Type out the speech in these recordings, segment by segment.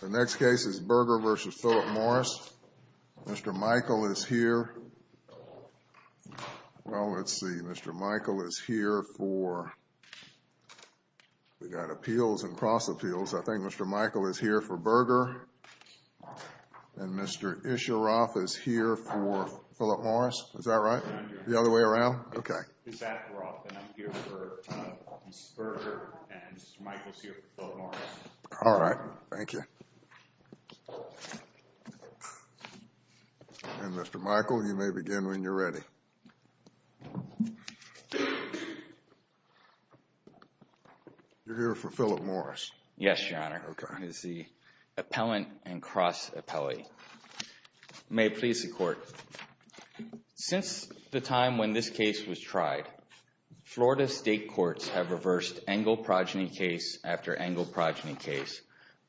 The next case is Berger v. Philip Morris. Mr. Michael is here. Well, let's see. Mr. Michael is here for, we've got appeals and cross appeals. I think Mr. Michael is here for Berger. And Mr. Isheroff is here for Philip Morris. Is that right? The other way around? Okay. Mr. Isheroff, and I'm here for Mr. Berger, and Mr. Michael is here for Philip Morris. All right. Thank you. And Mr. Michael, you may begin when you're ready. You're here for Philip Morris. Yes, Your Honor. Okay. He's the appellant and cross appellee. May it please the Court. Since the time when this case was tried, Florida state courts have reversed Engle progeny case after Engle progeny case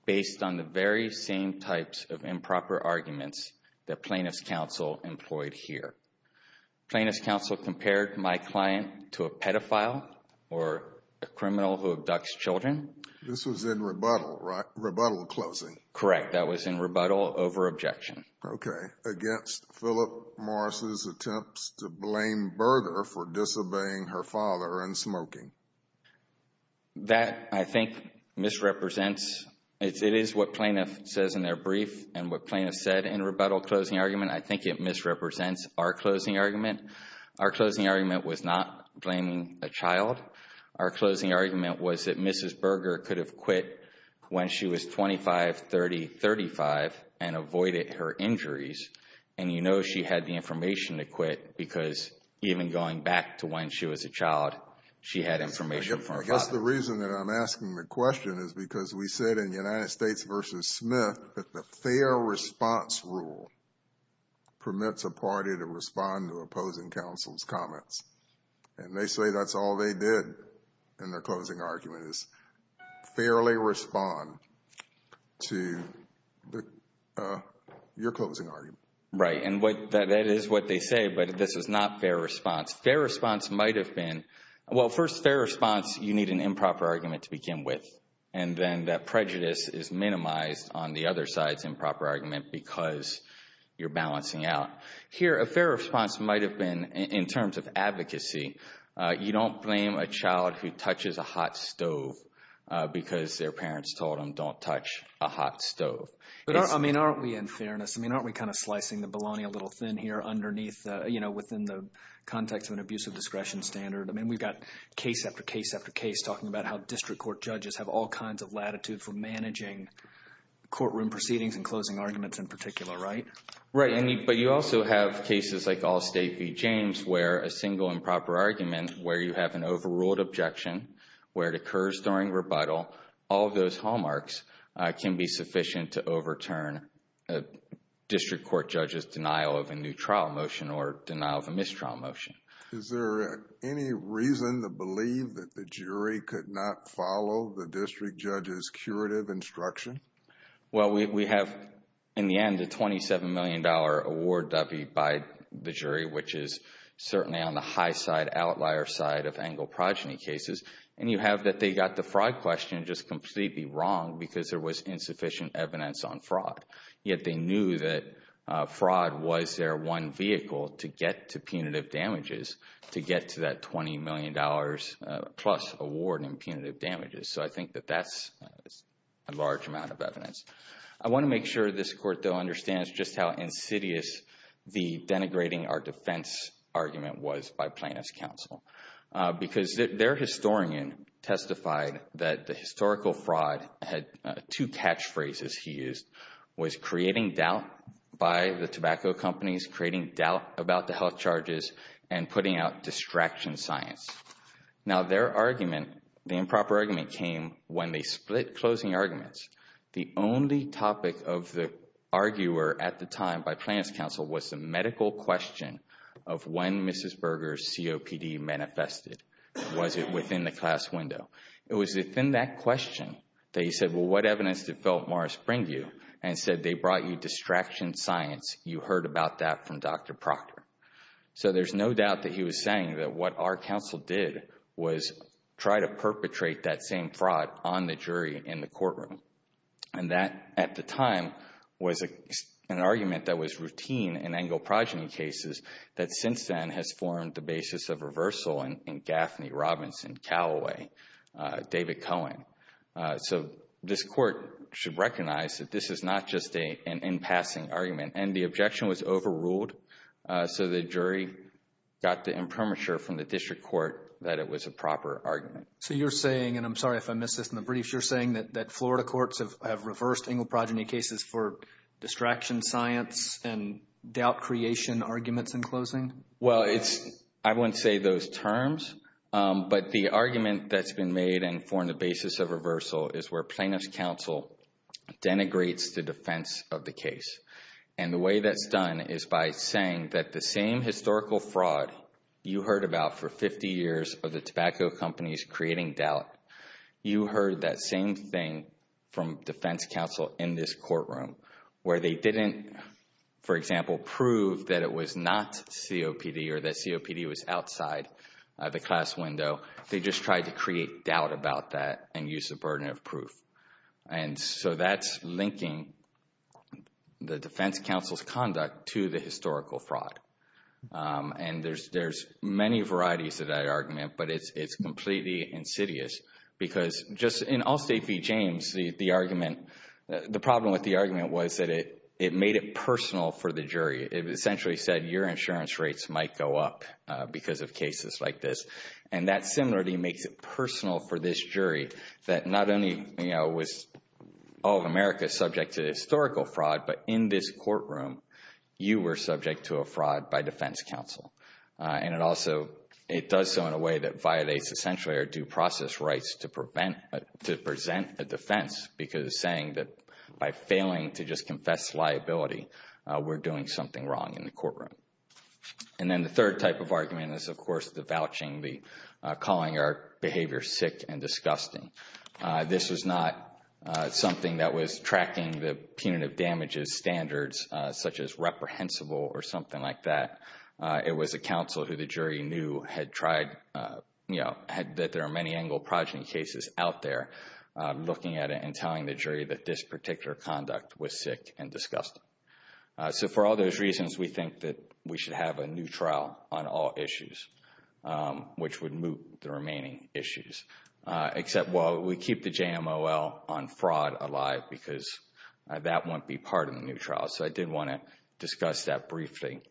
based on the very same types of improper arguments that plaintiff's counsel employed here. Plaintiff's counsel compared my client to a pedophile or a criminal who abducts children. This was in rebuttal, right? Rebuttal closing. Correct. That was in rebuttal over objection. Okay. Against Philip Morris's attempts to blame Berger for disobeying her father and smoking. That, I think, misrepresents. It is what plaintiff says in their brief and what plaintiff said in rebuttal closing argument. I think it misrepresents our closing argument. Our closing argument was not blaming a child. Our closing argument was that Mrs. Berger could have quit when she was 25, 30, 35 and avoided her injuries. And you know she had the information to quit because even going back to when she was a child, she had information from her father. I guess the reason that I'm asking the question is because we said in United States v. Smith that the fair response rule permits a party to respond to opposing counsel's comments. And they say that's all they did in their closing argument is fairly respond to your closing argument. Right. And that is what they say, but this is not fair response. Fair response might have been, well, first, fair response, you need an improper argument to begin with. And then that prejudice is minimized on the other side's improper argument because you're balancing out. Here, a fair response might have been in terms of advocacy. You don't blame a child who touches a hot stove because their parents told them don't touch a hot stove. I mean, aren't we, in fairness, I mean, aren't we kind of slicing the bologna a little thin here underneath, you know, within the context of an abusive discretion standard? I mean, we've got case after case after case talking about how district court judges have all kinds of latitude for managing courtroom proceedings and closing arguments in particular, right? Right. But you also have cases like Allstate v. James where a single improper argument, where you have an overruled objection, where it occurs during rebuttal, all of those hallmarks can be sufficient to overturn a district court judge's denial of a new trial motion or denial of a mistrial motion. Is there any reason to believe that the jury could not follow the district judge's curative instruction? Well, we have, in the end, a $27 million award, Debbie, by the jury, which is certainly on the high side, outlier side of angle progeny cases. And you have that they got the fraud question just completely wrong because there was insufficient evidence on fraud. Yet they knew that fraud was their one vehicle to get to punitive damages, to get to that $20 million plus award in punitive damages. So I think that that's a large amount of evidence. I want to make sure this court, though, understands just how insidious the denigrating our defense argument was by plaintiff's counsel because their historian testified that the historical fraud had two catchphrases he used, was creating doubt by the tobacco companies, creating doubt about the health charges, and putting out distraction science. Now, their argument, the improper argument, came when they split closing arguments. The only topic of the arguer at the time by plaintiff's counsel was the medical question of when Mrs. Berger's COPD manifested. Was it within the class window? It was within that question that he said, well, what evidence did Philip Morris bring you? And he said, they brought you distraction science. You heard about that from Dr. Proctor. So there's no doubt that he was saying that what our counsel did was try to perpetrate that same fraud on the jury in the courtroom. And that, at the time, was an argument that was routine in Engle progeny cases that since then has formed the basis of reversal in Gaffney, Robinson, Callaway, David Cohen. So this court should recognize that this is not just an in-passing argument. And the objection was overruled. So the jury got the impermature from the district court that it was a proper argument. So you're saying, and I'm sorry if I missed this in the brief, you're saying that Florida courts have reversed Engle progeny cases for distraction science and doubt creation arguments in closing? Well, I wouldn't say those terms. But the argument that's been made and formed the basis of reversal is where plaintiff's counsel denigrates the defense of the case. And the way that's done is by saying that the same historical fraud you heard about for 50 years of the tobacco companies creating doubt, you heard that same thing from defense counsel in this courtroom where they didn't, for example, prove that it was not COPD or that COPD was outside the class window. They just tried to create doubt about that and use the burden of proof. And so that's linking the defense counsel's conduct to the historical fraud. And there's many varieties of that argument, but it's completely insidious because just in Allstate v. It essentially said your insurance rates might go up because of cases like this. And that similarly makes it personal for this jury that not only was all of America subject to historical fraud, but in this courtroom you were subject to a fraud by defense counsel. And it also, it does so in a way that violates essentially our due process rights to prevent, to present a defense, because saying that by failing to just confess liability, we're doing something wrong in the courtroom. And then the third type of argument is, of course, the vouching, the calling our behavior sick and disgusting. This was not something that was tracking the punitive damages standards, such as reprehensible or something like that. It was a counsel who the jury knew had tried, you know, that there are many Engle progeny cases out there, looking at it and telling the jury that this particular conduct was sick and disgusting. So for all those reasons, we think that we should have a new trial on all issues, which would move the remaining issues. Except, well, we keep the JMOL on fraud alive because that won't be part of the new trial. So I did want to discuss that briefly.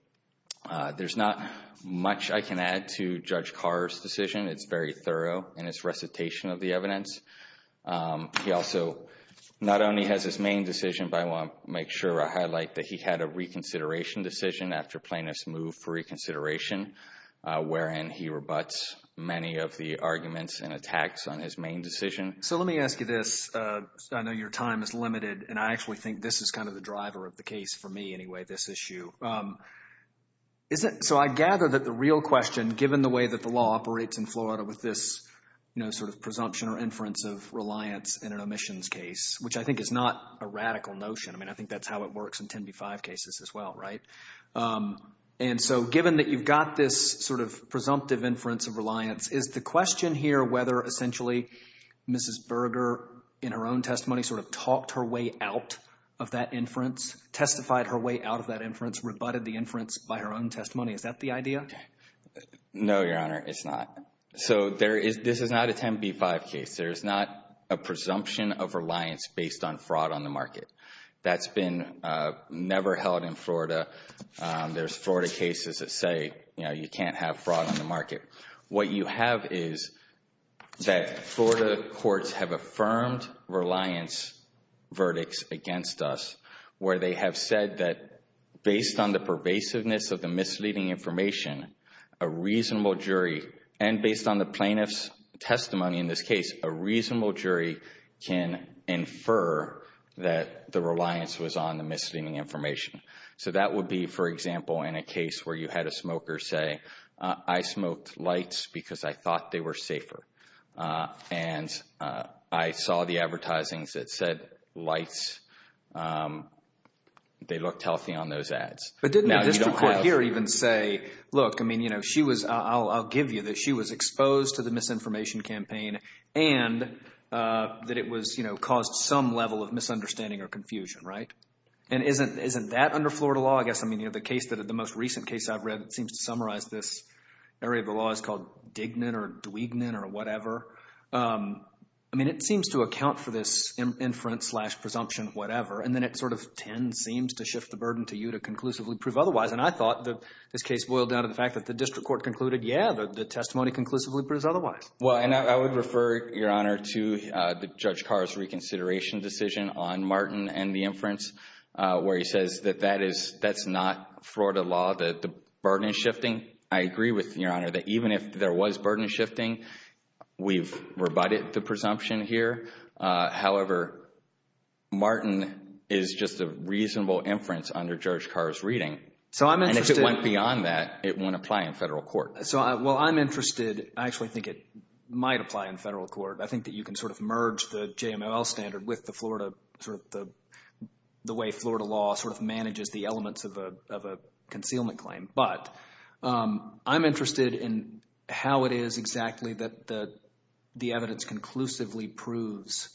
There's not much I can add to Judge Carr's decision. It's very thorough in his recitation of the evidence. He also not only has his main decision, but I want to make sure I highlight that he had a reconsideration decision after plaintiffs moved for reconsideration, wherein he rebuts many of the arguments and attacks on his main decision. So let me ask you this. I know your time is limited, and I actually think this is kind of the driver of the case for me anyway, this issue. So I gather that the real question, given the way that the law operates in Florida with this, you know, sort of presumption or inference of reliance in an omissions case, which I think is not a radical notion. I mean, I think that's how it works in 10b-5 cases as well, right? And so given that you've got this sort of presumptive inference of reliance, is the question here whether essentially Mrs. Berger in her own testimony sort of talked her way out of that inference, testified her way out of that inference, rebutted the inference by her own testimony, is that the idea? No, Your Honor, it's not. So this is not a 10b-5 case. There is not a presumption of reliance based on fraud on the market. That's been never held in Florida. There's Florida cases that say, you know, you can't have fraud on the market. What you have is that Florida courts have affirmed reliance verdicts against us, where they have said that based on the pervasiveness of the misleading information, a reasonable jury, and based on the plaintiff's testimony in this case, a reasonable jury can infer that the reliance was on the misleading information. So that would be, for example, in a case where you had a smoker say, I smoked lights because I thought they were safer. And I saw the advertising that said lights, they looked healthy on those ads. But didn't the district court here even say, look, I mean, you know, she was, I'll give you this, she was exposed to the misinformation campaign and that it was, you know, caused some level of misunderstanding or confusion, right? And isn't that under Florida law? I guess, I mean, you know, the case, the most recent case I've read, it seems to summarize this area of the law is called Dignan or Dwegenon or whatever. I mean, it seems to account for this inference slash presumption, whatever. And then it sort of tends, seems to shift the burden to you to conclusively prove otherwise. And I thought that this case boiled down to the fact that the district court concluded, yeah, the testimony conclusively proves otherwise. Well, and I would refer, Your Honor, to Judge Carr's reconsideration decision on Martin and the inference, where he says that that is, that's not Florida law, that the burden is shifting. I agree with, Your Honor, that even if there was burden shifting, we've rebutted the presumption here. However, Martin is just a reasonable inference under Judge Carr's reading. So I'm interested. And if it went beyond that, it wouldn't apply in federal court. So while I'm interested, I actually think it might apply in federal court. I think that you can sort of merge the JML standard with the Florida, sort of the way Florida law sort of manages the elements of a concealment claim. But I'm interested in how it is exactly that the evidence conclusively proves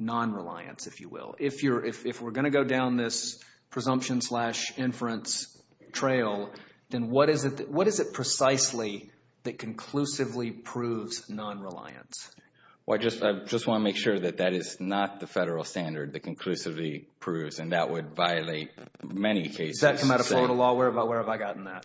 nonreliance, if you will. If we're going to go down this presumption slash inference trail, then what is it precisely that conclusively proves nonreliance? Well, I just want to make sure that that is not the federal standard that conclusively proves, and that would violate many cases. Does that come out of Florida law? Where have I gotten that?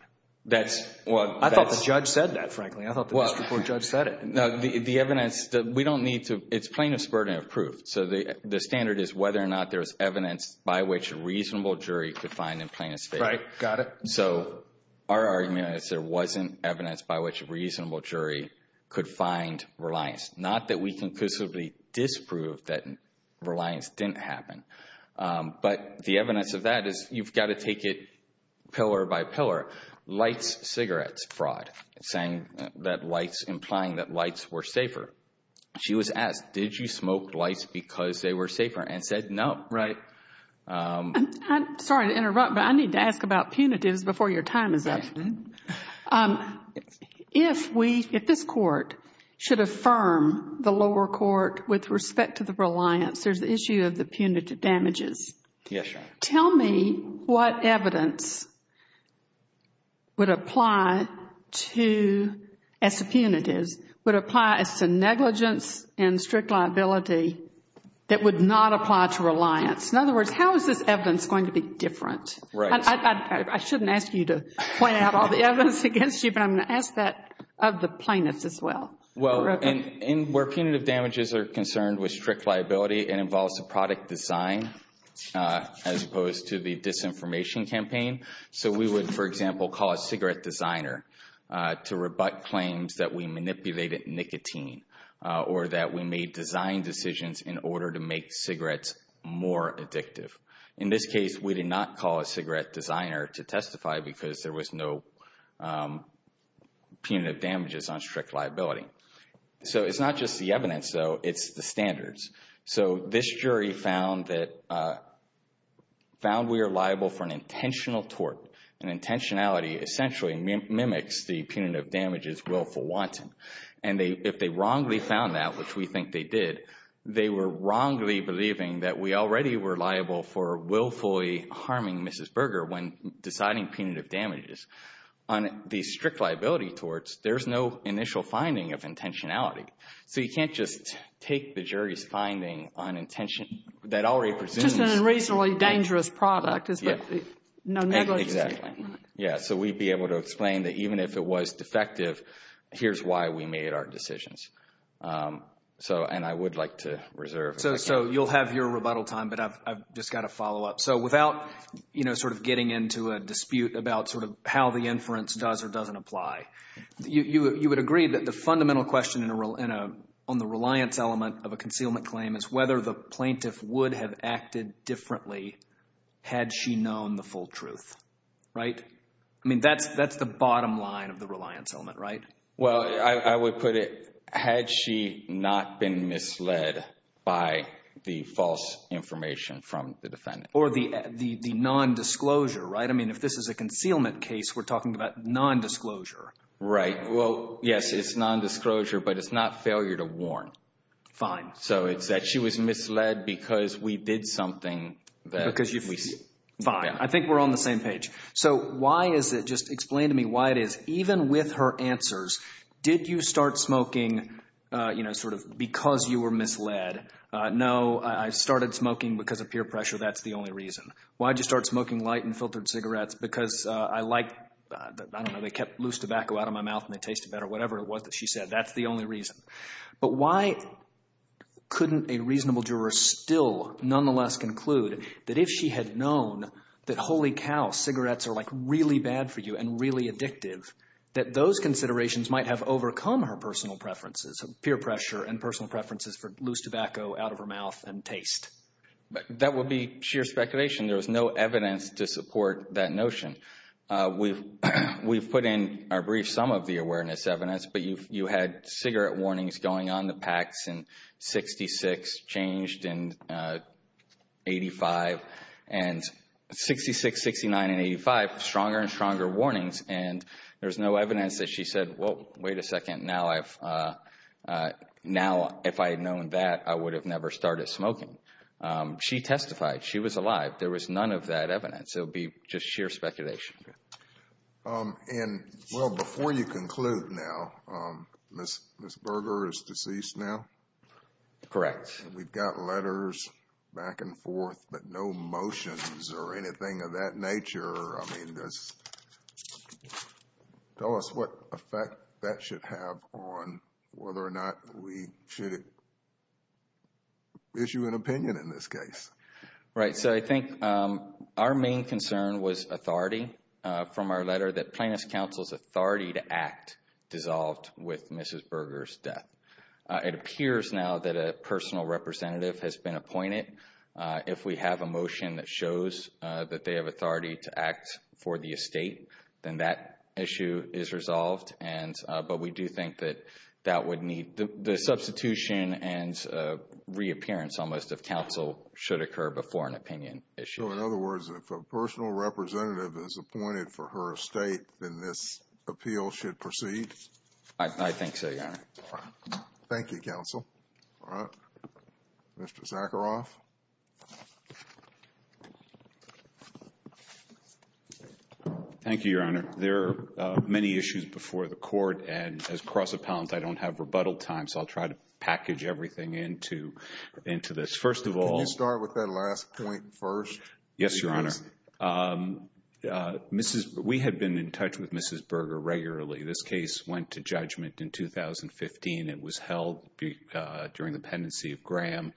I thought the judge said that, frankly. I thought the district court judge said it. No, the evidence, we don't need to, it's plaintiff's burden of proof. So the standard is whether or not there's evidence by which a reasonable jury could find in plaintiff's favor. Right, got it. So our argument is there wasn't evidence by which a reasonable jury could find reliance, not that we conclusively disproved that reliance didn't happen. But the evidence of that is you've got to take it pillar by pillar. Lights, cigarettes fraud, implying that lights were safer. She was asked, did you smoke lights because they were safer? And said, no. Right. Sorry to interrupt, but I need to ask about punitives before your time is up. If we, if this court should affirm the lower court with respect to the reliance, there's the issue of the punitive damages. Yes, Your Honor. Tell me what evidence would apply to, as to punitives, would apply as to negligence and strict liability that would not apply to reliance. In other words, how is this evidence going to be different? Right. I shouldn't ask you to point out all the evidence against you, but I'm going to ask that of the plaintiffs as well. Well, where punitive damages are concerned with strict liability, it involves a product design as opposed to the disinformation campaign. So we would, for example, call a cigarette designer to rebut claims that we manipulated nicotine or that we made design decisions in order to make cigarettes more addictive. In this case, we did not call a cigarette designer to testify because there was no punitive damages on strict liability. So it's not just the evidence, though. It's the standards. So this jury found that we are liable for an intentional tort, and intentionality essentially mimics the punitive damages willful wanton. And if they wrongly found that, which we think they did, they were wrongly believing that we already were liable for willfully harming Mrs. Berger when deciding punitive damages. On the strict liability torts, there's no initial finding of intentionality. So you can't just take the jury's finding on intention that already presumes. Just a reasonably dangerous product. Exactly. Yeah, so we'd be able to explain that even if it was defective, here's why we made our decisions. And I would like to reserve. So you'll have your rebuttal time, but I've just got to follow up. So without sort of getting into a dispute about sort of how the inference does or doesn't apply, you would agree that the fundamental question on the reliance element of a concealment claim is whether the plaintiff would have acted differently had she known the full truth, right? I mean, that's the bottom line of the reliance element, right? Well, I would put it had she not been misled by the false information from the defendant. Or the nondisclosure, right? I mean, if this is a concealment case, we're talking about nondisclosure. Right. Well, yes, it's nondisclosure, but it's not failure to warn. Fine. So it's that she was misled because we did something that we said. Fine. I think we're on the same page. So why is it, just explain to me why it is, even with her answers, did you start smoking sort of because you were misled? No, I started smoking because of peer pressure. That's the only reason. Why did you start smoking light and filtered cigarettes? Because I liked, I don't know, they kept loose tobacco out of my mouth and they tasted better, whatever it was that she said. That's the only reason. But why couldn't a reasonable juror still nonetheless conclude that if she had known that holy cow, cigarettes are, like, really bad for you and really addictive, that those considerations might have overcome her personal preferences, peer pressure and personal preferences for loose tobacco out of her mouth and taste? That would be sheer speculation. There was no evidence to support that notion. We've put in our brief some of the awareness evidence, but you had cigarette warnings going on the packs in 66, changed in 85, and 66, 69, and 85, stronger and stronger warnings, and there's no evidence that she said, Well, wait a second, now if I had known that, I would have never started smoking. She testified. She was alive. There was none of that evidence. It would be just sheer speculation. And, well, before you conclude now, Ms. Berger is deceased now? Correct. We've got letters back and forth, but no motions or anything of that nature. I mean, tell us what effect that should have on whether or not we should issue an opinion in this case. Right. So I think our main concern was authority from our letter, that plaintiff's counsel's authority to act dissolved with Mrs. Berger's death. It appears now that a personal representative has been appointed. If we have a motion that shows that they have authority to act for the estate, then that issue is resolved, but we do think that that would need the substitution and reappearance almost of counsel should occur before an opinion issue. So, in other words, if a personal representative is appointed for her estate, then this appeal should proceed? I think so, yes. Thank you, counsel. All right. Mr. Zacheroff. Thank you, Your Honor. There are many issues before the court, and as cross-appellant, I don't have rebuttal time, so I'll try to package everything into this. First of all. Can you start with that last point first? Yes, Your Honor. We had been in touch with Mrs. Berger regularly. This case went to judgment in 2015. It was held during the pendency of Graham.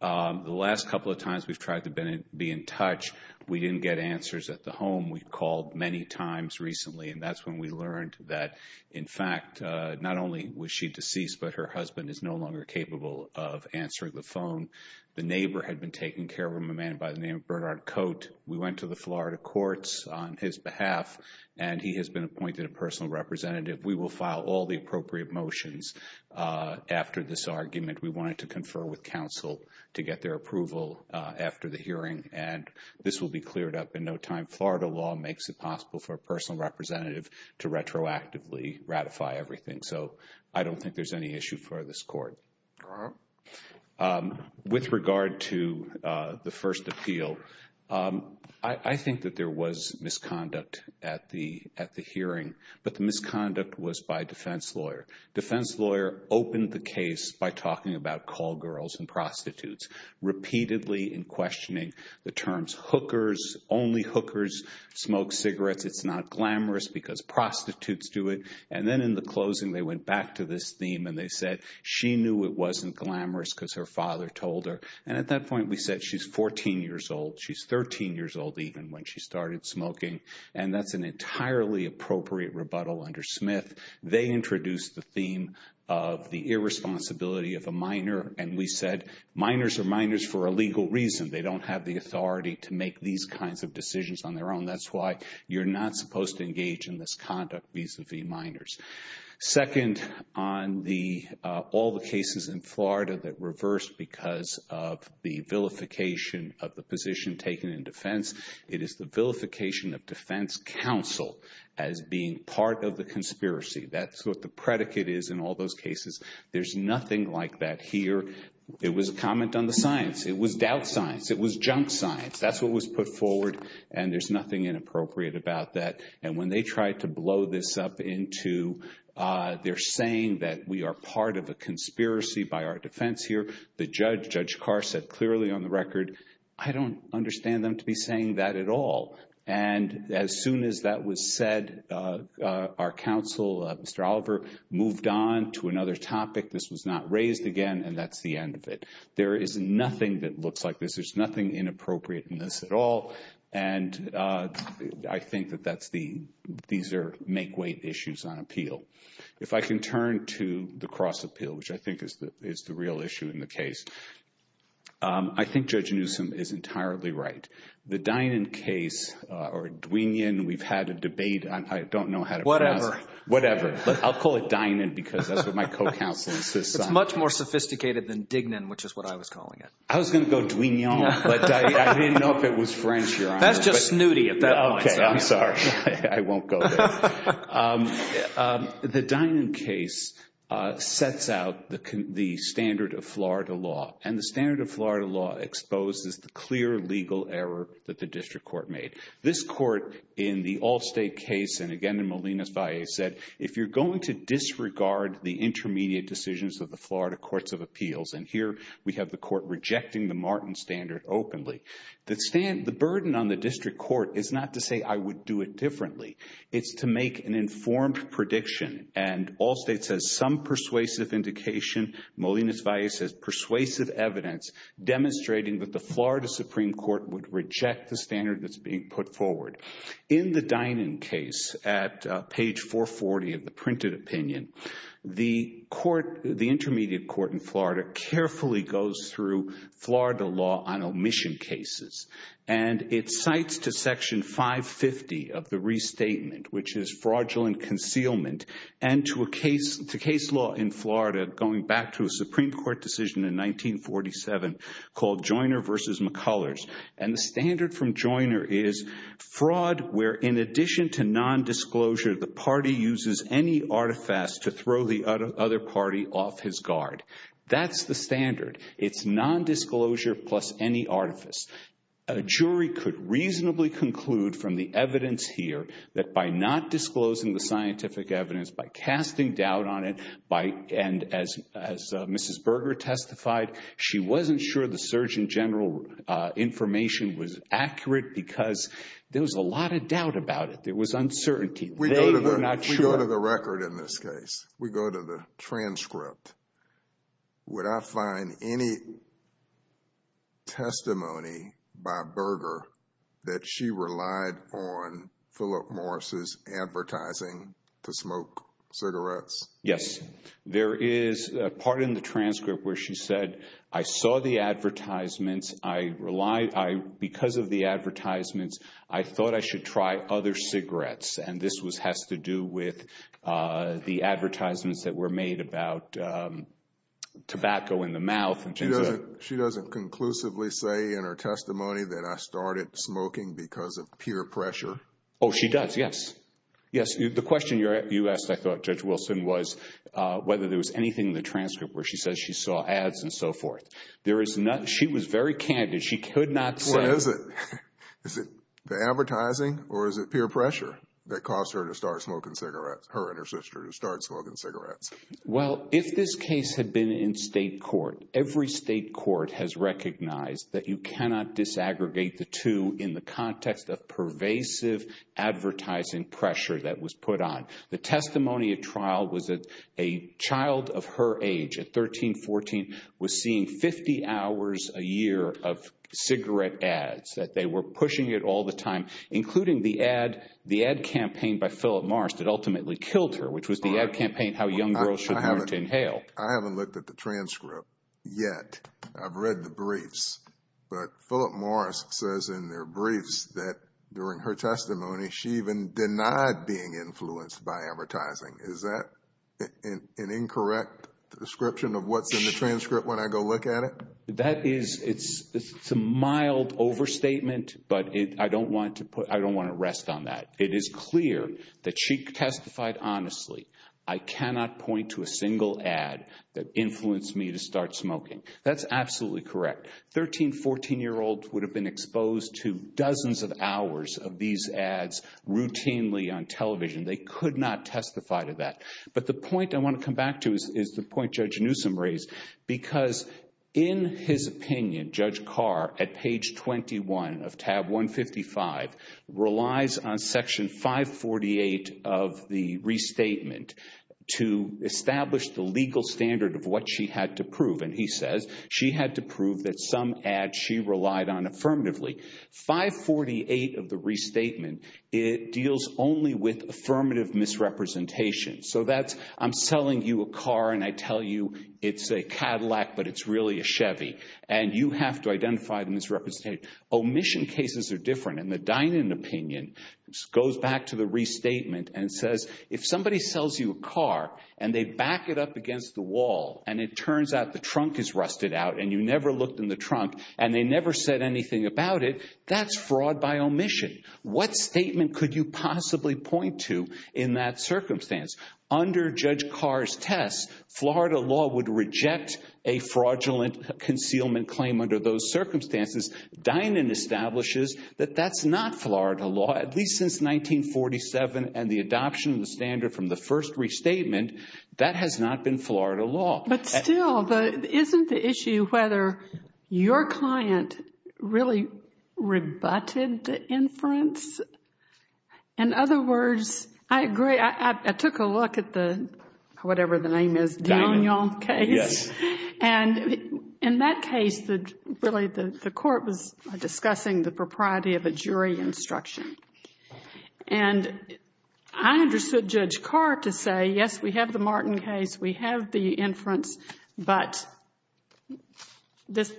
The last couple of times we've tried to be in touch, we didn't get answers at the home. We called many times recently, and that's when we learned that, in fact, not only was she deceased, but her husband is no longer capable of answering the phone. The neighbor had been taken care of by a man by the name of Bernard Cote. We went to the Florida courts on his behalf, and he has been appointed a personal representative. We will file all the appropriate motions after this argument. We wanted to confer with counsel to get their approval after the hearing, and this will be cleared up in no time. Florida law makes it possible for a personal representative to retroactively ratify everything, so I don't think there's any issue for this court. All right. With regard to the first appeal, I think that there was misconduct at the hearing, but the misconduct was by defense lawyer. Defense lawyer opened the case by talking about call girls and prostitutes, repeatedly in questioning the terms hookers, only hookers smoke cigarettes, it's not glamorous because prostitutes do it, and then in the closing they went back to this theme and they said she knew it wasn't glamorous because her father told her, and at that point we said she's 14 years old, she's 13 years old even when she started smoking, and that's an entirely appropriate rebuttal under Smith. They introduced the theme of the irresponsibility of a minor, and we said minors are minors for a legal reason. They don't have the authority to make these kinds of decisions on their own. That's why you're not supposed to engage in this conduct vis-a-vis minors. Second, on all the cases in Florida that reversed because of the vilification of the position taken in defense, it is the vilification of defense counsel as being part of the conspiracy. That's what the predicate is in all those cases. There's nothing like that here. It was a comment on the science. It was doubt science. It was junk science. That's what was put forward, and there's nothing inappropriate about that, and when they tried to blow this up into they're saying that we are part of a conspiracy by our defense here, the judge, Judge Carr, said clearly on the record, I don't understand them to be saying that at all, and as soon as that was said, our counsel, Mr. Oliver, moved on to another topic. This was not raised again, and that's the end of it. There is nothing that looks like this. There's nothing inappropriate in this at all, and I think that these are make-weight issues on appeal. If I can turn to the cross-appeal, which I think is the real issue in the case, I think Judge Newsom is entirely right. The Dynon case or Dweenion, we've had a debate. I don't know how to pronounce it. Whatever. Whatever, but I'll call it Dynon because that's what my co-counsel says. It's much more sophisticated than Dignon, which is what I was calling it. I was going to go Dweenion, but I didn't know if it was French. That's just snooty at that point. Okay. I'm sorry. I won't go there. The Dynon case sets out the standard of Florida law, and the standard of Florida law exposes the clear legal error that the district court made. This court in the Allstate case and, again, in Molina's bias said, if you're going to disregard the intermediate decisions of the Florida courts of appeals, and here we have the court rejecting the Martin standard openly, the burden on the district court is not to say I would do it differently. It's to make an informed prediction, and Allstate says some persuasive indication, Molina's bias says persuasive evidence, demonstrating that the Florida Supreme Court would reject the standard that's being put forward. In the Dynon case at page 440 of the printed opinion, the court, the intermediate court in Florida, carefully goes through Florida law on omission cases, and it cites to section 550 of the restatement, which is fraudulent concealment, and to case law in Florida going back to a Supreme Court decision in 1947 called Joyner v. McCullers, and the standard from Joyner is fraud where, in addition to nondisclosure, the party uses any artifice to throw the other party off his guard. That's the standard. It's nondisclosure plus any artifice. A jury could reasonably conclude from the evidence here that by not disclosing the scientific evidence, by casting doubt on it, and as Mrs. Berger testified, she wasn't sure the surgeon general information was accurate because there was a lot of doubt about it. It was uncertainty. They were not sure. We go to the record in this case. We go to the transcript. Would I find any testimony by Berger that she relied on Philip Morris' advertising to smoke cigarettes? Yes. There is a part in the transcript where she said, I saw the advertisements. Because of the advertisements, I thought I should try other cigarettes, and this has to do with the advertisements that were made about tobacco in the mouth. She doesn't conclusively say in her testimony that I started smoking because of peer pressure? Oh, she does, yes. Yes, the question you asked, I thought, Judge Wilson, was whether there was anything in the transcript where she says she saw ads and so forth. She was very candid. What is it? Is it the advertising or is it peer pressure that caused her and her sister to start smoking cigarettes? Well, if this case had been in state court, every state court has recognized that you cannot disaggregate the two in the context of pervasive advertising pressure that was put on. The testimony at trial was that a child of her age, at 13, 14, was seeing 50 hours a year of cigarette ads, that they were pushing it all the time, including the ad campaign by Philip Morris that ultimately killed her, which was the ad campaign how young girls should learn to inhale. I haven't looked at the transcript yet. I've read the briefs, but Philip Morris says in their briefs that during her testimony, she even denied being influenced by advertising. Is that an incorrect description of what's in the transcript when I go look at it? That is a mild overstatement, but I don't want to rest on that. It is clear that she testified honestly. I cannot point to a single ad that influenced me to start smoking. That's absolutely correct. A 13-, 14-year-old would have been exposed to dozens of hours of these ads routinely on television. They could not testify to that. But the point I want to come back to is the point Judge Newsom raised, because in his opinion, Judge Carr, at page 21 of tab 155, relies on section 548 of the restatement to establish the legal standard of what she had to prove, and he says she had to prove that some ads she relied on affirmatively. 548 of the restatement, it deals only with affirmative misrepresentation. So that's I'm selling you a car, and I tell you it's a Cadillac, but it's really a Chevy, and you have to identify the misrepresentation. Omission cases are different, and the Dinan opinion goes back to the restatement and says if somebody sells you a car, and they back it up against the wall, and it turns out the trunk is rusted out, and you never looked in the trunk, and they never said anything about it, that's fraud by omission. What statement could you possibly point to in that circumstance? Under Judge Carr's test, Florida law would reject a fraudulent concealment claim under those circumstances. Dinan establishes that that's not Florida law, at least since 1947, and the adoption of the standard from the first restatement, that has not been Florida law. But still, isn't the issue whether your client really rebutted the inference? In other words, I agree. I took a look at the, whatever the name is, Dinan case, and in that case, really the court was discussing the propriety of a jury instruction. And I understood Judge Carr to say, yes, we have the Martin case. We have the inference, but this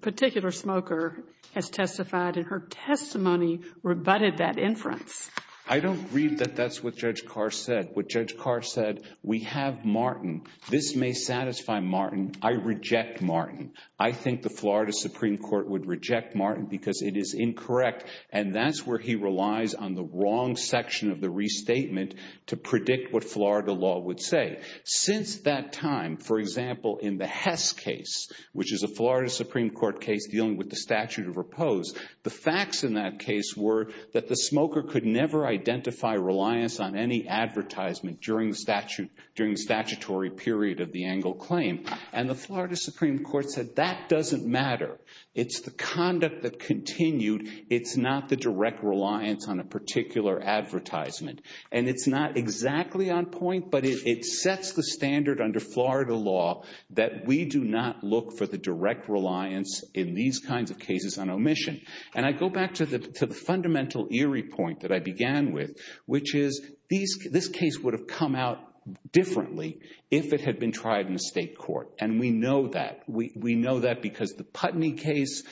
particular smoker has testified, and her testimony rebutted that inference. I don't agree that that's what Judge Carr said. What Judge Carr said, we have Martin. This may satisfy Martin. I reject Martin. I think the Florida Supreme Court would reject Martin because it is incorrect, and that's where he relies on the wrong section of the restatement to predict what Florida law would say. Since that time, for example, in the Hess case, which is a Florida Supreme Court case dealing with the statute of repose, the facts in that case were that the smoker could never identify reliance on any advertisement during the statutory period of the Engle claim. And the Florida Supreme Court said that doesn't matter. It's the conduct that continued. It's not the direct reliance on a particular advertisement. And it's not exactly on point, but it sets the standard under Florida law that we do not look for the direct reliance in these kinds of cases on omission. And I go back to the fundamental eerie point that I began with, which is this case would have come out differently if it had been tried in a state court, and we know that. We know that because the Putney case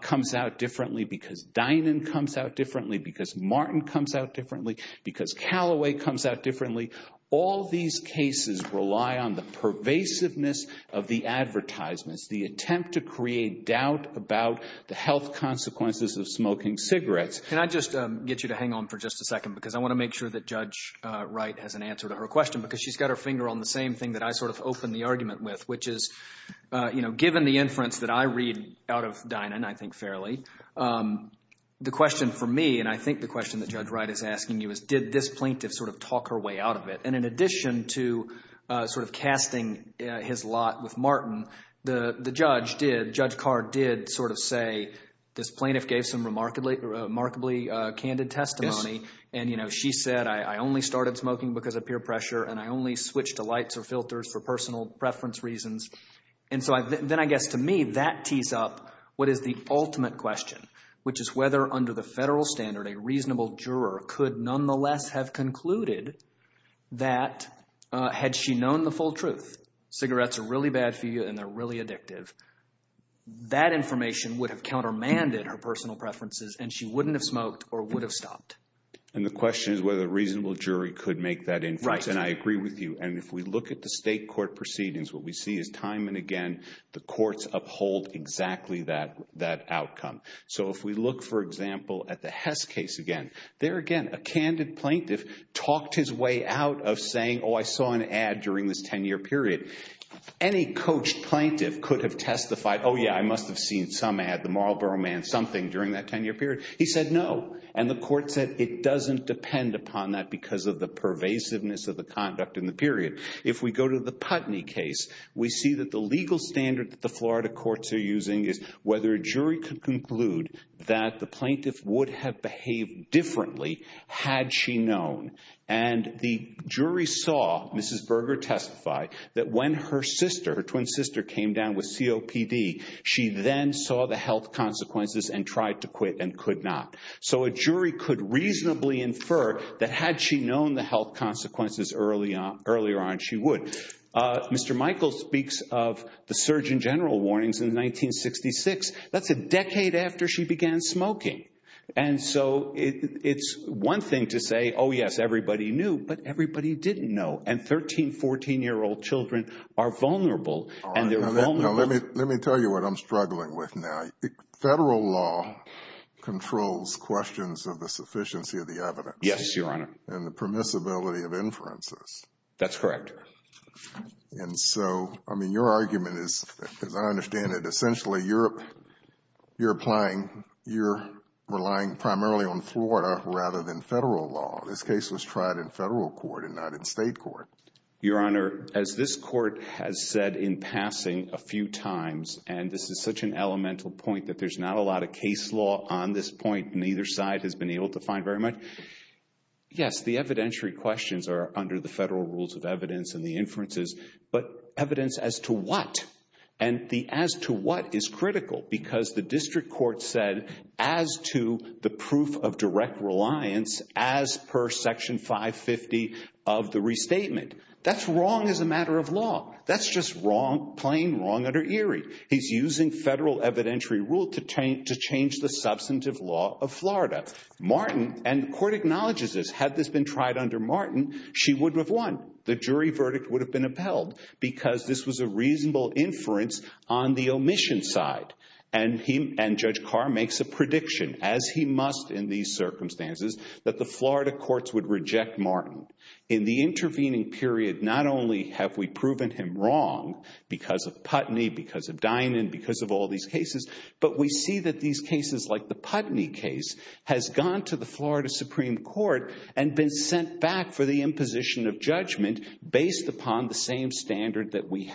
comes out differently, because Dinan comes out differently, because Martin comes out differently, because Callaway comes out differently. All these cases rely on the pervasiveness of the advertisements, the attempt to create doubt about the health consequences of smoking cigarettes. Can I just get you to hang on for just a second, because I want to make sure that Judge Wright has an answer to her question, because she's got her finger on the same thing that I sort of opened the argument with, which is given the inference that I read out of Dinan, I think fairly, the question for me, and I think the question that Judge Wright is asking you, is did this plaintiff sort of talk her way out of it? And in addition to sort of casting his lot with Martin, the judge did, Judge Carr did sort of say this plaintiff gave some remarkably candid testimony, and she said, I only started smoking because of peer pressure, and I only switched to lights or filters for personal preference reasons. And so then I guess to me that tees up what is the ultimate question, which is whether under the federal standard, a reasonable juror could nonetheless have concluded that had she known the full truth, cigarettes are really bad for you and they're really addictive, that information would have countermanded her personal preferences, and she wouldn't have smoked or would have stopped. And the question is whether a reasonable jury could make that inference, and I agree with you. And if we look at the state court proceedings, what we see is time and again, the courts uphold exactly that outcome. So if we look, for example, at the Hess case again, there again, a candid plaintiff talked his way out of saying, oh, I saw an ad during this 10-year period. Any coached plaintiff could have testified, oh, yeah, I must have seen some ad, the Marlboro Man something during that 10-year period. He said no. And the court said it doesn't depend upon that because of the pervasiveness of the conduct in the period. If we go to the Putney case, we see that the legal standard that the Florida courts are using is whether a jury could conclude that the plaintiff would have behaved differently had she known. And the jury saw Mrs. Berger testify that when her sister, her twin sister, came down with COPD, she then saw the health consequences and tried to quit and could not. So a jury could reasonably infer that had she known the health consequences earlier on, she would. Mr. Michael speaks of the Surgeon General warnings in 1966. That's a decade after she began smoking. And so it's one thing to say, oh, yes, everybody knew, but everybody didn't know. And 13-, 14-year-old children are vulnerable. Let me tell you what I'm struggling with now. Federal law controls questions of the sufficiency of the evidence. Yes, Your Honor. And the permissibility of inferences. That's correct. And so, I mean, your argument is, as I understand it, essentially you're applying, you're relying primarily on Florida rather than federal law. This case was tried in federal court and not in state court. Your Honor, as this court has said in passing a few times, and this is such an elemental point that there's not a lot of case law on this point, neither side has been able to find very much. Yes, the evidentiary questions are under the federal rules of evidence and the inferences, but evidence as to what? And the as to what is critical because the district court said as to the proof of direct reliance as per Section 550 of the restatement. That's wrong as a matter of law. That's just wrong, plain wrong under Erie. He's using federal evidentiary rule to change the substantive law of Florida. Martin, and the court acknowledges this, had this been tried under Martin, she wouldn't have won. The jury verdict would have been upheld because this was a reasonable inference on the omission side. And Judge Carr makes a prediction, as he must in these circumstances, that the Florida courts would reject Martin. In the intervening period, not only have we proven him wrong because of Putney, because of Dinan, because of all these cases, but we see that these cases like the Putney case has gone to the Florida Supreme Court and been sent back for the imposition of judgment based upon the same standard that we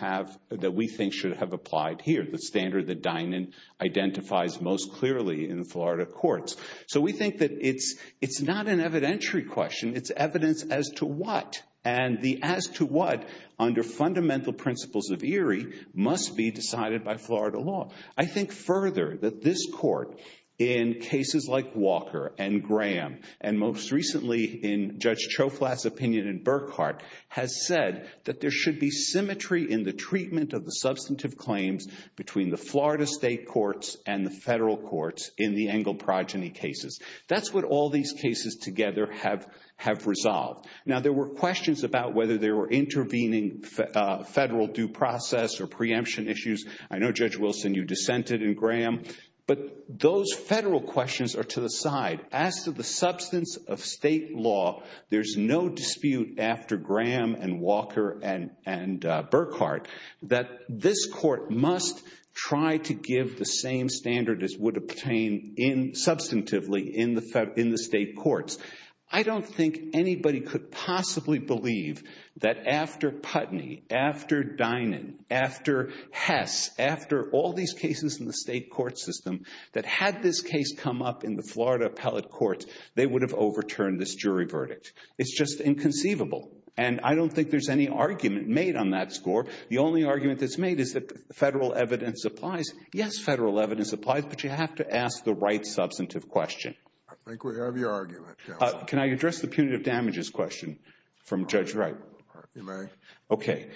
think should have applied here, the standard that Dinan identifies most clearly in the Florida courts. So we think that it's not an evidentiary question. It's evidence as to what. And the as to what, under fundamental principles of Erie, must be decided by Florida law. I think further that this court, in cases like Walker and Graham, and most recently in Judge Choflat's opinion in Burkhart, has said that there should be symmetry in the treatment of the substantive claims between the Florida state courts and the federal courts in the Engle progeny cases. That's what all these cases together have resolved. Now there were questions about whether they were intervening federal due process or preemption issues. I know, Judge Wilson, you dissented in Graham. But those federal questions are to the side. As to the substance of state law, there's no dispute after Graham and Walker and Burkhart that this court must try to give the same standard as would obtain substantively in the state courts. I don't think anybody could possibly believe that after Putney, after Dinan, after Hess, after all these cases in the state court system, that had this case come up in the Florida appellate courts, they would have overturned this jury verdict. It's just inconceivable. And I don't think there's any argument made on that score. The only argument that's made is that federal evidence applies. Yes, federal evidence applies, but you have to ask the right substantive question. I think we have your argument, Judge. Can I address the punitive damages question from Judge Wright? You may. Okay.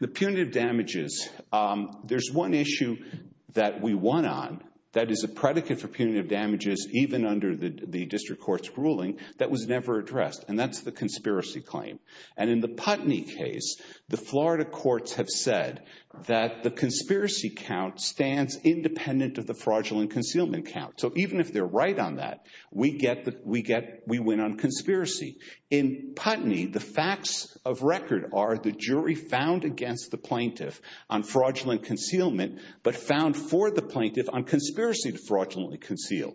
The punitive damages, there's one issue that we won on that is a predicate for punitive damages, even under the district court's ruling, that was never addressed, and that's the conspiracy claim. And in the Putney case, the Florida courts have said that the conspiracy count stands independent of the fraudulent concealment count. So even if they're right on that, we win on conspiracy. In Putney, the facts of record are the jury found against the plaintiff on fraudulent concealment, but found for the plaintiff on conspiracy to fraudulently conceal.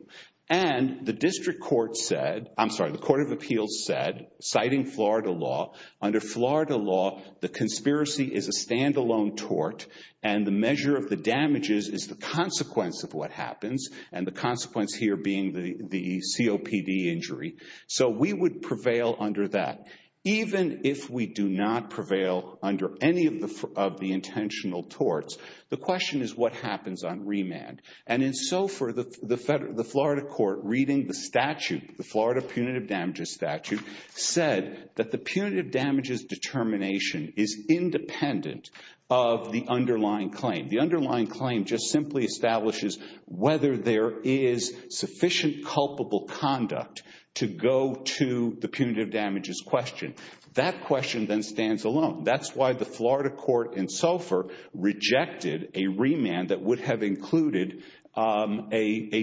And the district court said, I'm sorry, the court of appeals said, citing Florida law, under Florida law, the conspiracy is a standalone tort, and the measure of the damages is the consequence of what happens, and the consequence here being the COPD injury. So we would prevail under that. Even if we do not prevail under any of the intentional torts, the question is what happens on remand. And in SOFR, the Florida court, reading the statute, the Florida punitive damages statute, said that the punitive damages determination is independent of the underlying claim. The underlying claim just simply establishes whether there is sufficient culpable conduct to go to the punitive damages question. That question then stands alone. That's why the Florida court in SOFR rejected a remand that would have included a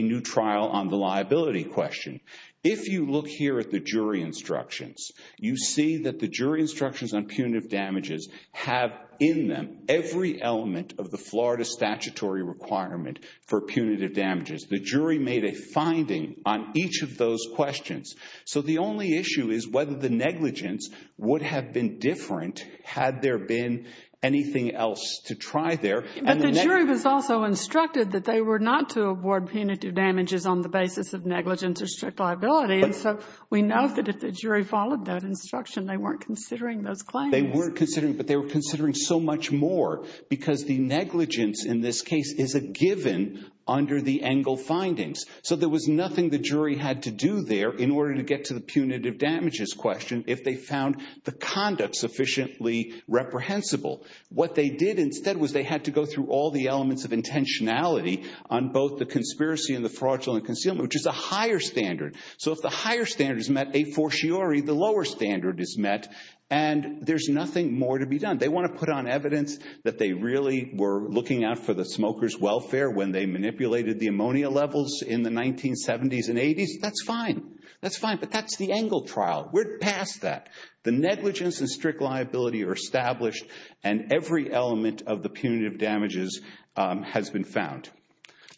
new trial on the liability question. If you look here at the jury instructions, you see that the jury instructions on punitive damages have in them every element of the Florida statutory requirement for punitive damages. The jury made a finding on each of those questions. So the only issue is whether the negligence would have been different had there been anything else to try there. But the jury was also instructed that they were not to award punitive damages on the basis of negligence or strict liability. And so we know that if the jury followed that instruction, they weren't considering those claims. They weren't considering, but they were considering so much more because the negligence in this case is a given under the Engle findings. So there was nothing the jury had to do there in order to get to the punitive damages question if they found the conduct sufficiently reprehensible. What they did instead was they had to go through all the elements of intentionality on both the conspiracy and the fraudulent concealment, which is a higher standard. So if the higher standard is met, a fortiori the lower standard is met, and there's nothing more to be done. They want to put on evidence that they really were looking out for the smokers' welfare when they manipulated the ammonia levels in the 1970s and 80s. That's fine. That's fine. But that's the Engle trial. We're past that. The negligence and strict liability are established, and every element of the punitive damages has been found.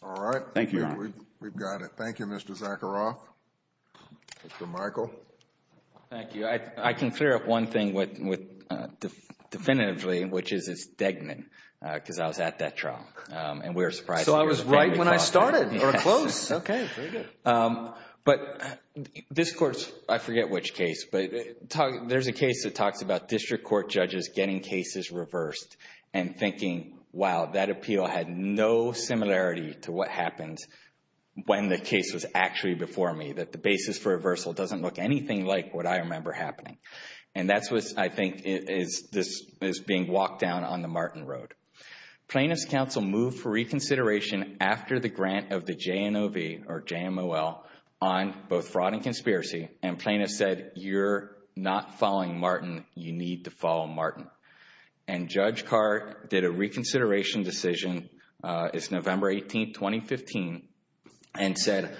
All right. Thank you, Your Honor. We've got it. Thank you, Mr. Zakharoff. Mr. Michael. Thank you. I can clear up one thing definitively, which is it's Degnan because I was at that trial, and we were surprised. So I was right when I started or close. Yes. Okay. Very good. But this court's, I forget which case, but there's a case that talks about district court judges getting cases reversed and thinking, wow, that appeal had no similarity to what happened when the case was actually before me, that the basis for reversal doesn't look anything like what I remember happening. And that's what I think is being walked down on the Martin Road. Plaintiffs' counsel moved for reconsideration after the grant of the JNOV or JMOL on both fraud and conspiracy, and plaintiffs said, you're not following Martin. You need to follow Martin. And Judge Carr did a reconsideration decision. It's November 18, 2015, and said,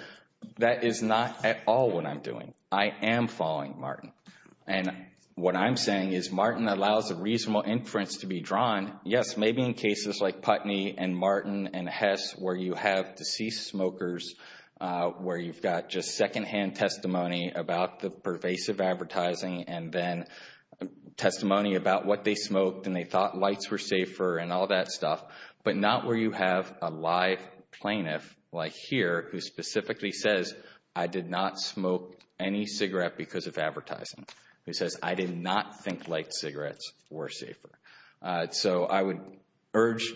that is not at all what I'm doing. I am following Martin. And what I'm saying is Martin allows a reasonable inference to be drawn, yes, maybe in cases like Putney and Martin and Hess where you have deceased smokers, where you've got just secondhand testimony about the pervasive advertising and then testimony about what they smoked and they thought lights were safer and all that stuff, but not where you have a live plaintiff like here who specifically says, I did not smoke any cigarette because of advertising, who says, I did not think light cigarettes were safer. So I would urge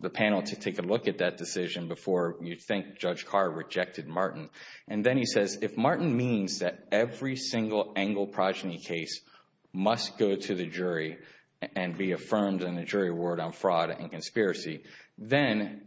the panel to take a look at that decision before you think Judge Carr rejected Martin. And then he says, if Martin means that every single Engle progeny case must go to the jury and be affirmed in a jury award on fraud and conspiracy, then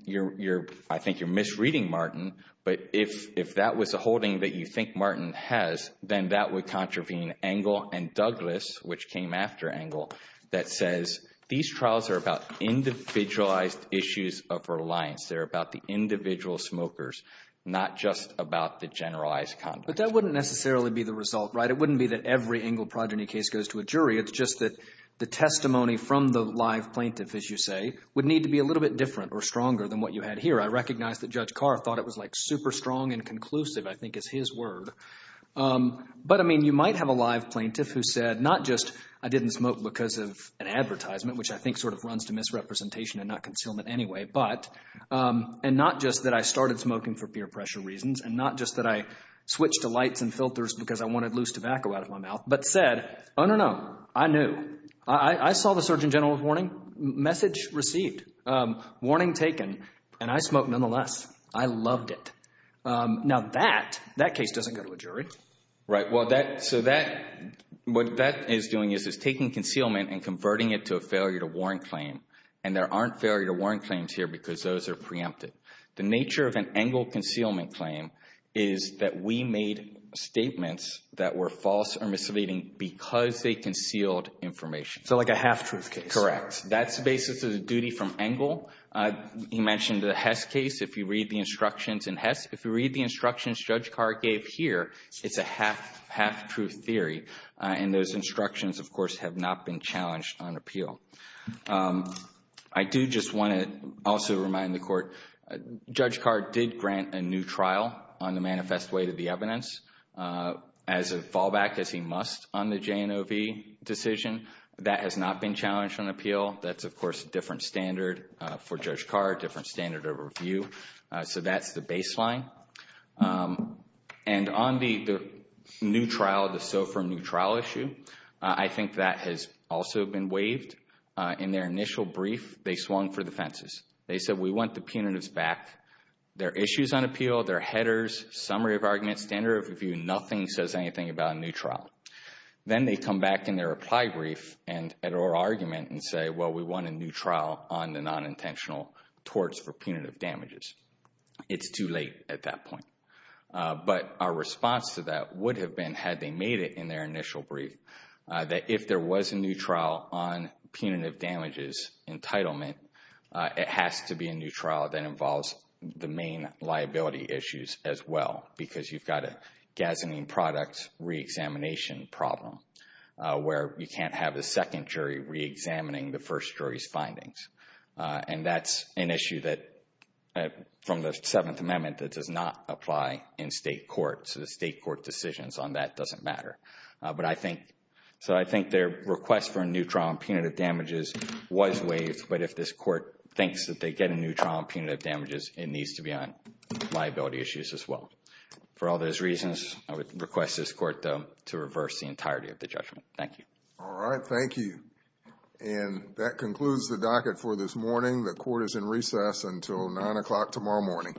I think you're misreading Martin. But if that was a holding that you think Martin has, then that would contravene Engle and Douglas, which came after Engle, that says these trials are about individualized issues of reliance. They're about the individual smokers, not just about the generalized conduct. But that wouldn't necessarily be the result, right? It wouldn't be that every Engle progeny case goes to a jury. It's just that the testimony from the live plaintiff, as you say, would need to be a little bit different or stronger than what you had here. I recognize that Judge Carr thought it was like super strong and conclusive, I think is his word. But, I mean, you might have a live plaintiff who said not just I didn't smoke because of an advertisement, which I think sort of runs to misrepresentation and not concealment anyway, but and not just that I started smoking for peer pressure reasons and not just that I switched to lights and filters because I wanted loose tobacco out of my mouth, but said, oh, no, no, I knew. I saw the Surgeon General's warning, message received, warning taken, and I smoked nonetheless. I loved it. Now that, that case doesn't go to a jury. Right. Well, that, so that, what that is doing is it's taking concealment and converting it to a failure to warrant claim. And there aren't failure to warrant claims here because those are preempted. The nature of an Engle concealment claim is that we made statements that were false or misleading because they concealed information. So like a half-truth case. Correct. That's the basis of the duty from Engle. He mentioned the Hess case. If you read the instructions in Hess, if you read the instructions Judge Carr gave here, it's a half-truth theory. And those instructions, of course, have not been challenged on appeal. I do just want to also remind the Court, Judge Carr did grant a new trial on the manifest way to the evidence as a fallback, as he must on the J&OV decision. That has not been challenged on appeal. That's, of course, a different standard for Judge Carr, different standard of review. So that's the baseline. And on the new trial, the SOFR new trial issue, I think that has also been waived. In their initial brief, they swung for the fences. They said, we want the punitives back. Their issue is on appeal. Their headers, summary of arguments, standard of review, nothing says anything about a new trial. Then they come back in their reply brief or argument and say, well, we want a new trial on the non-intentional torts for punitive damages. It's too late at that point. But our response to that would have been, had they made it in their initial brief, that if there was a new trial on punitive damages entitlement, it has to be a new trial that involves the main liability issues as well, because you've got a gasoline product reexamination problem, where you can't have a second jury reexamining the first jury's findings. And that's an issue from the Seventh Amendment that does not apply in state court. So the state court decisions on that doesn't matter. So I think their request for a new trial on punitive damages was waived. But if this court thinks that they get a new trial on punitive damages, it needs to be on liability issues as well. For all those reasons, I would request this court to reverse the entirety of the judgment. Thank you. All right. Thank you. And that concludes the docket for this morning. The court is in recess until 9 o'clock tomorrow morning. All rise.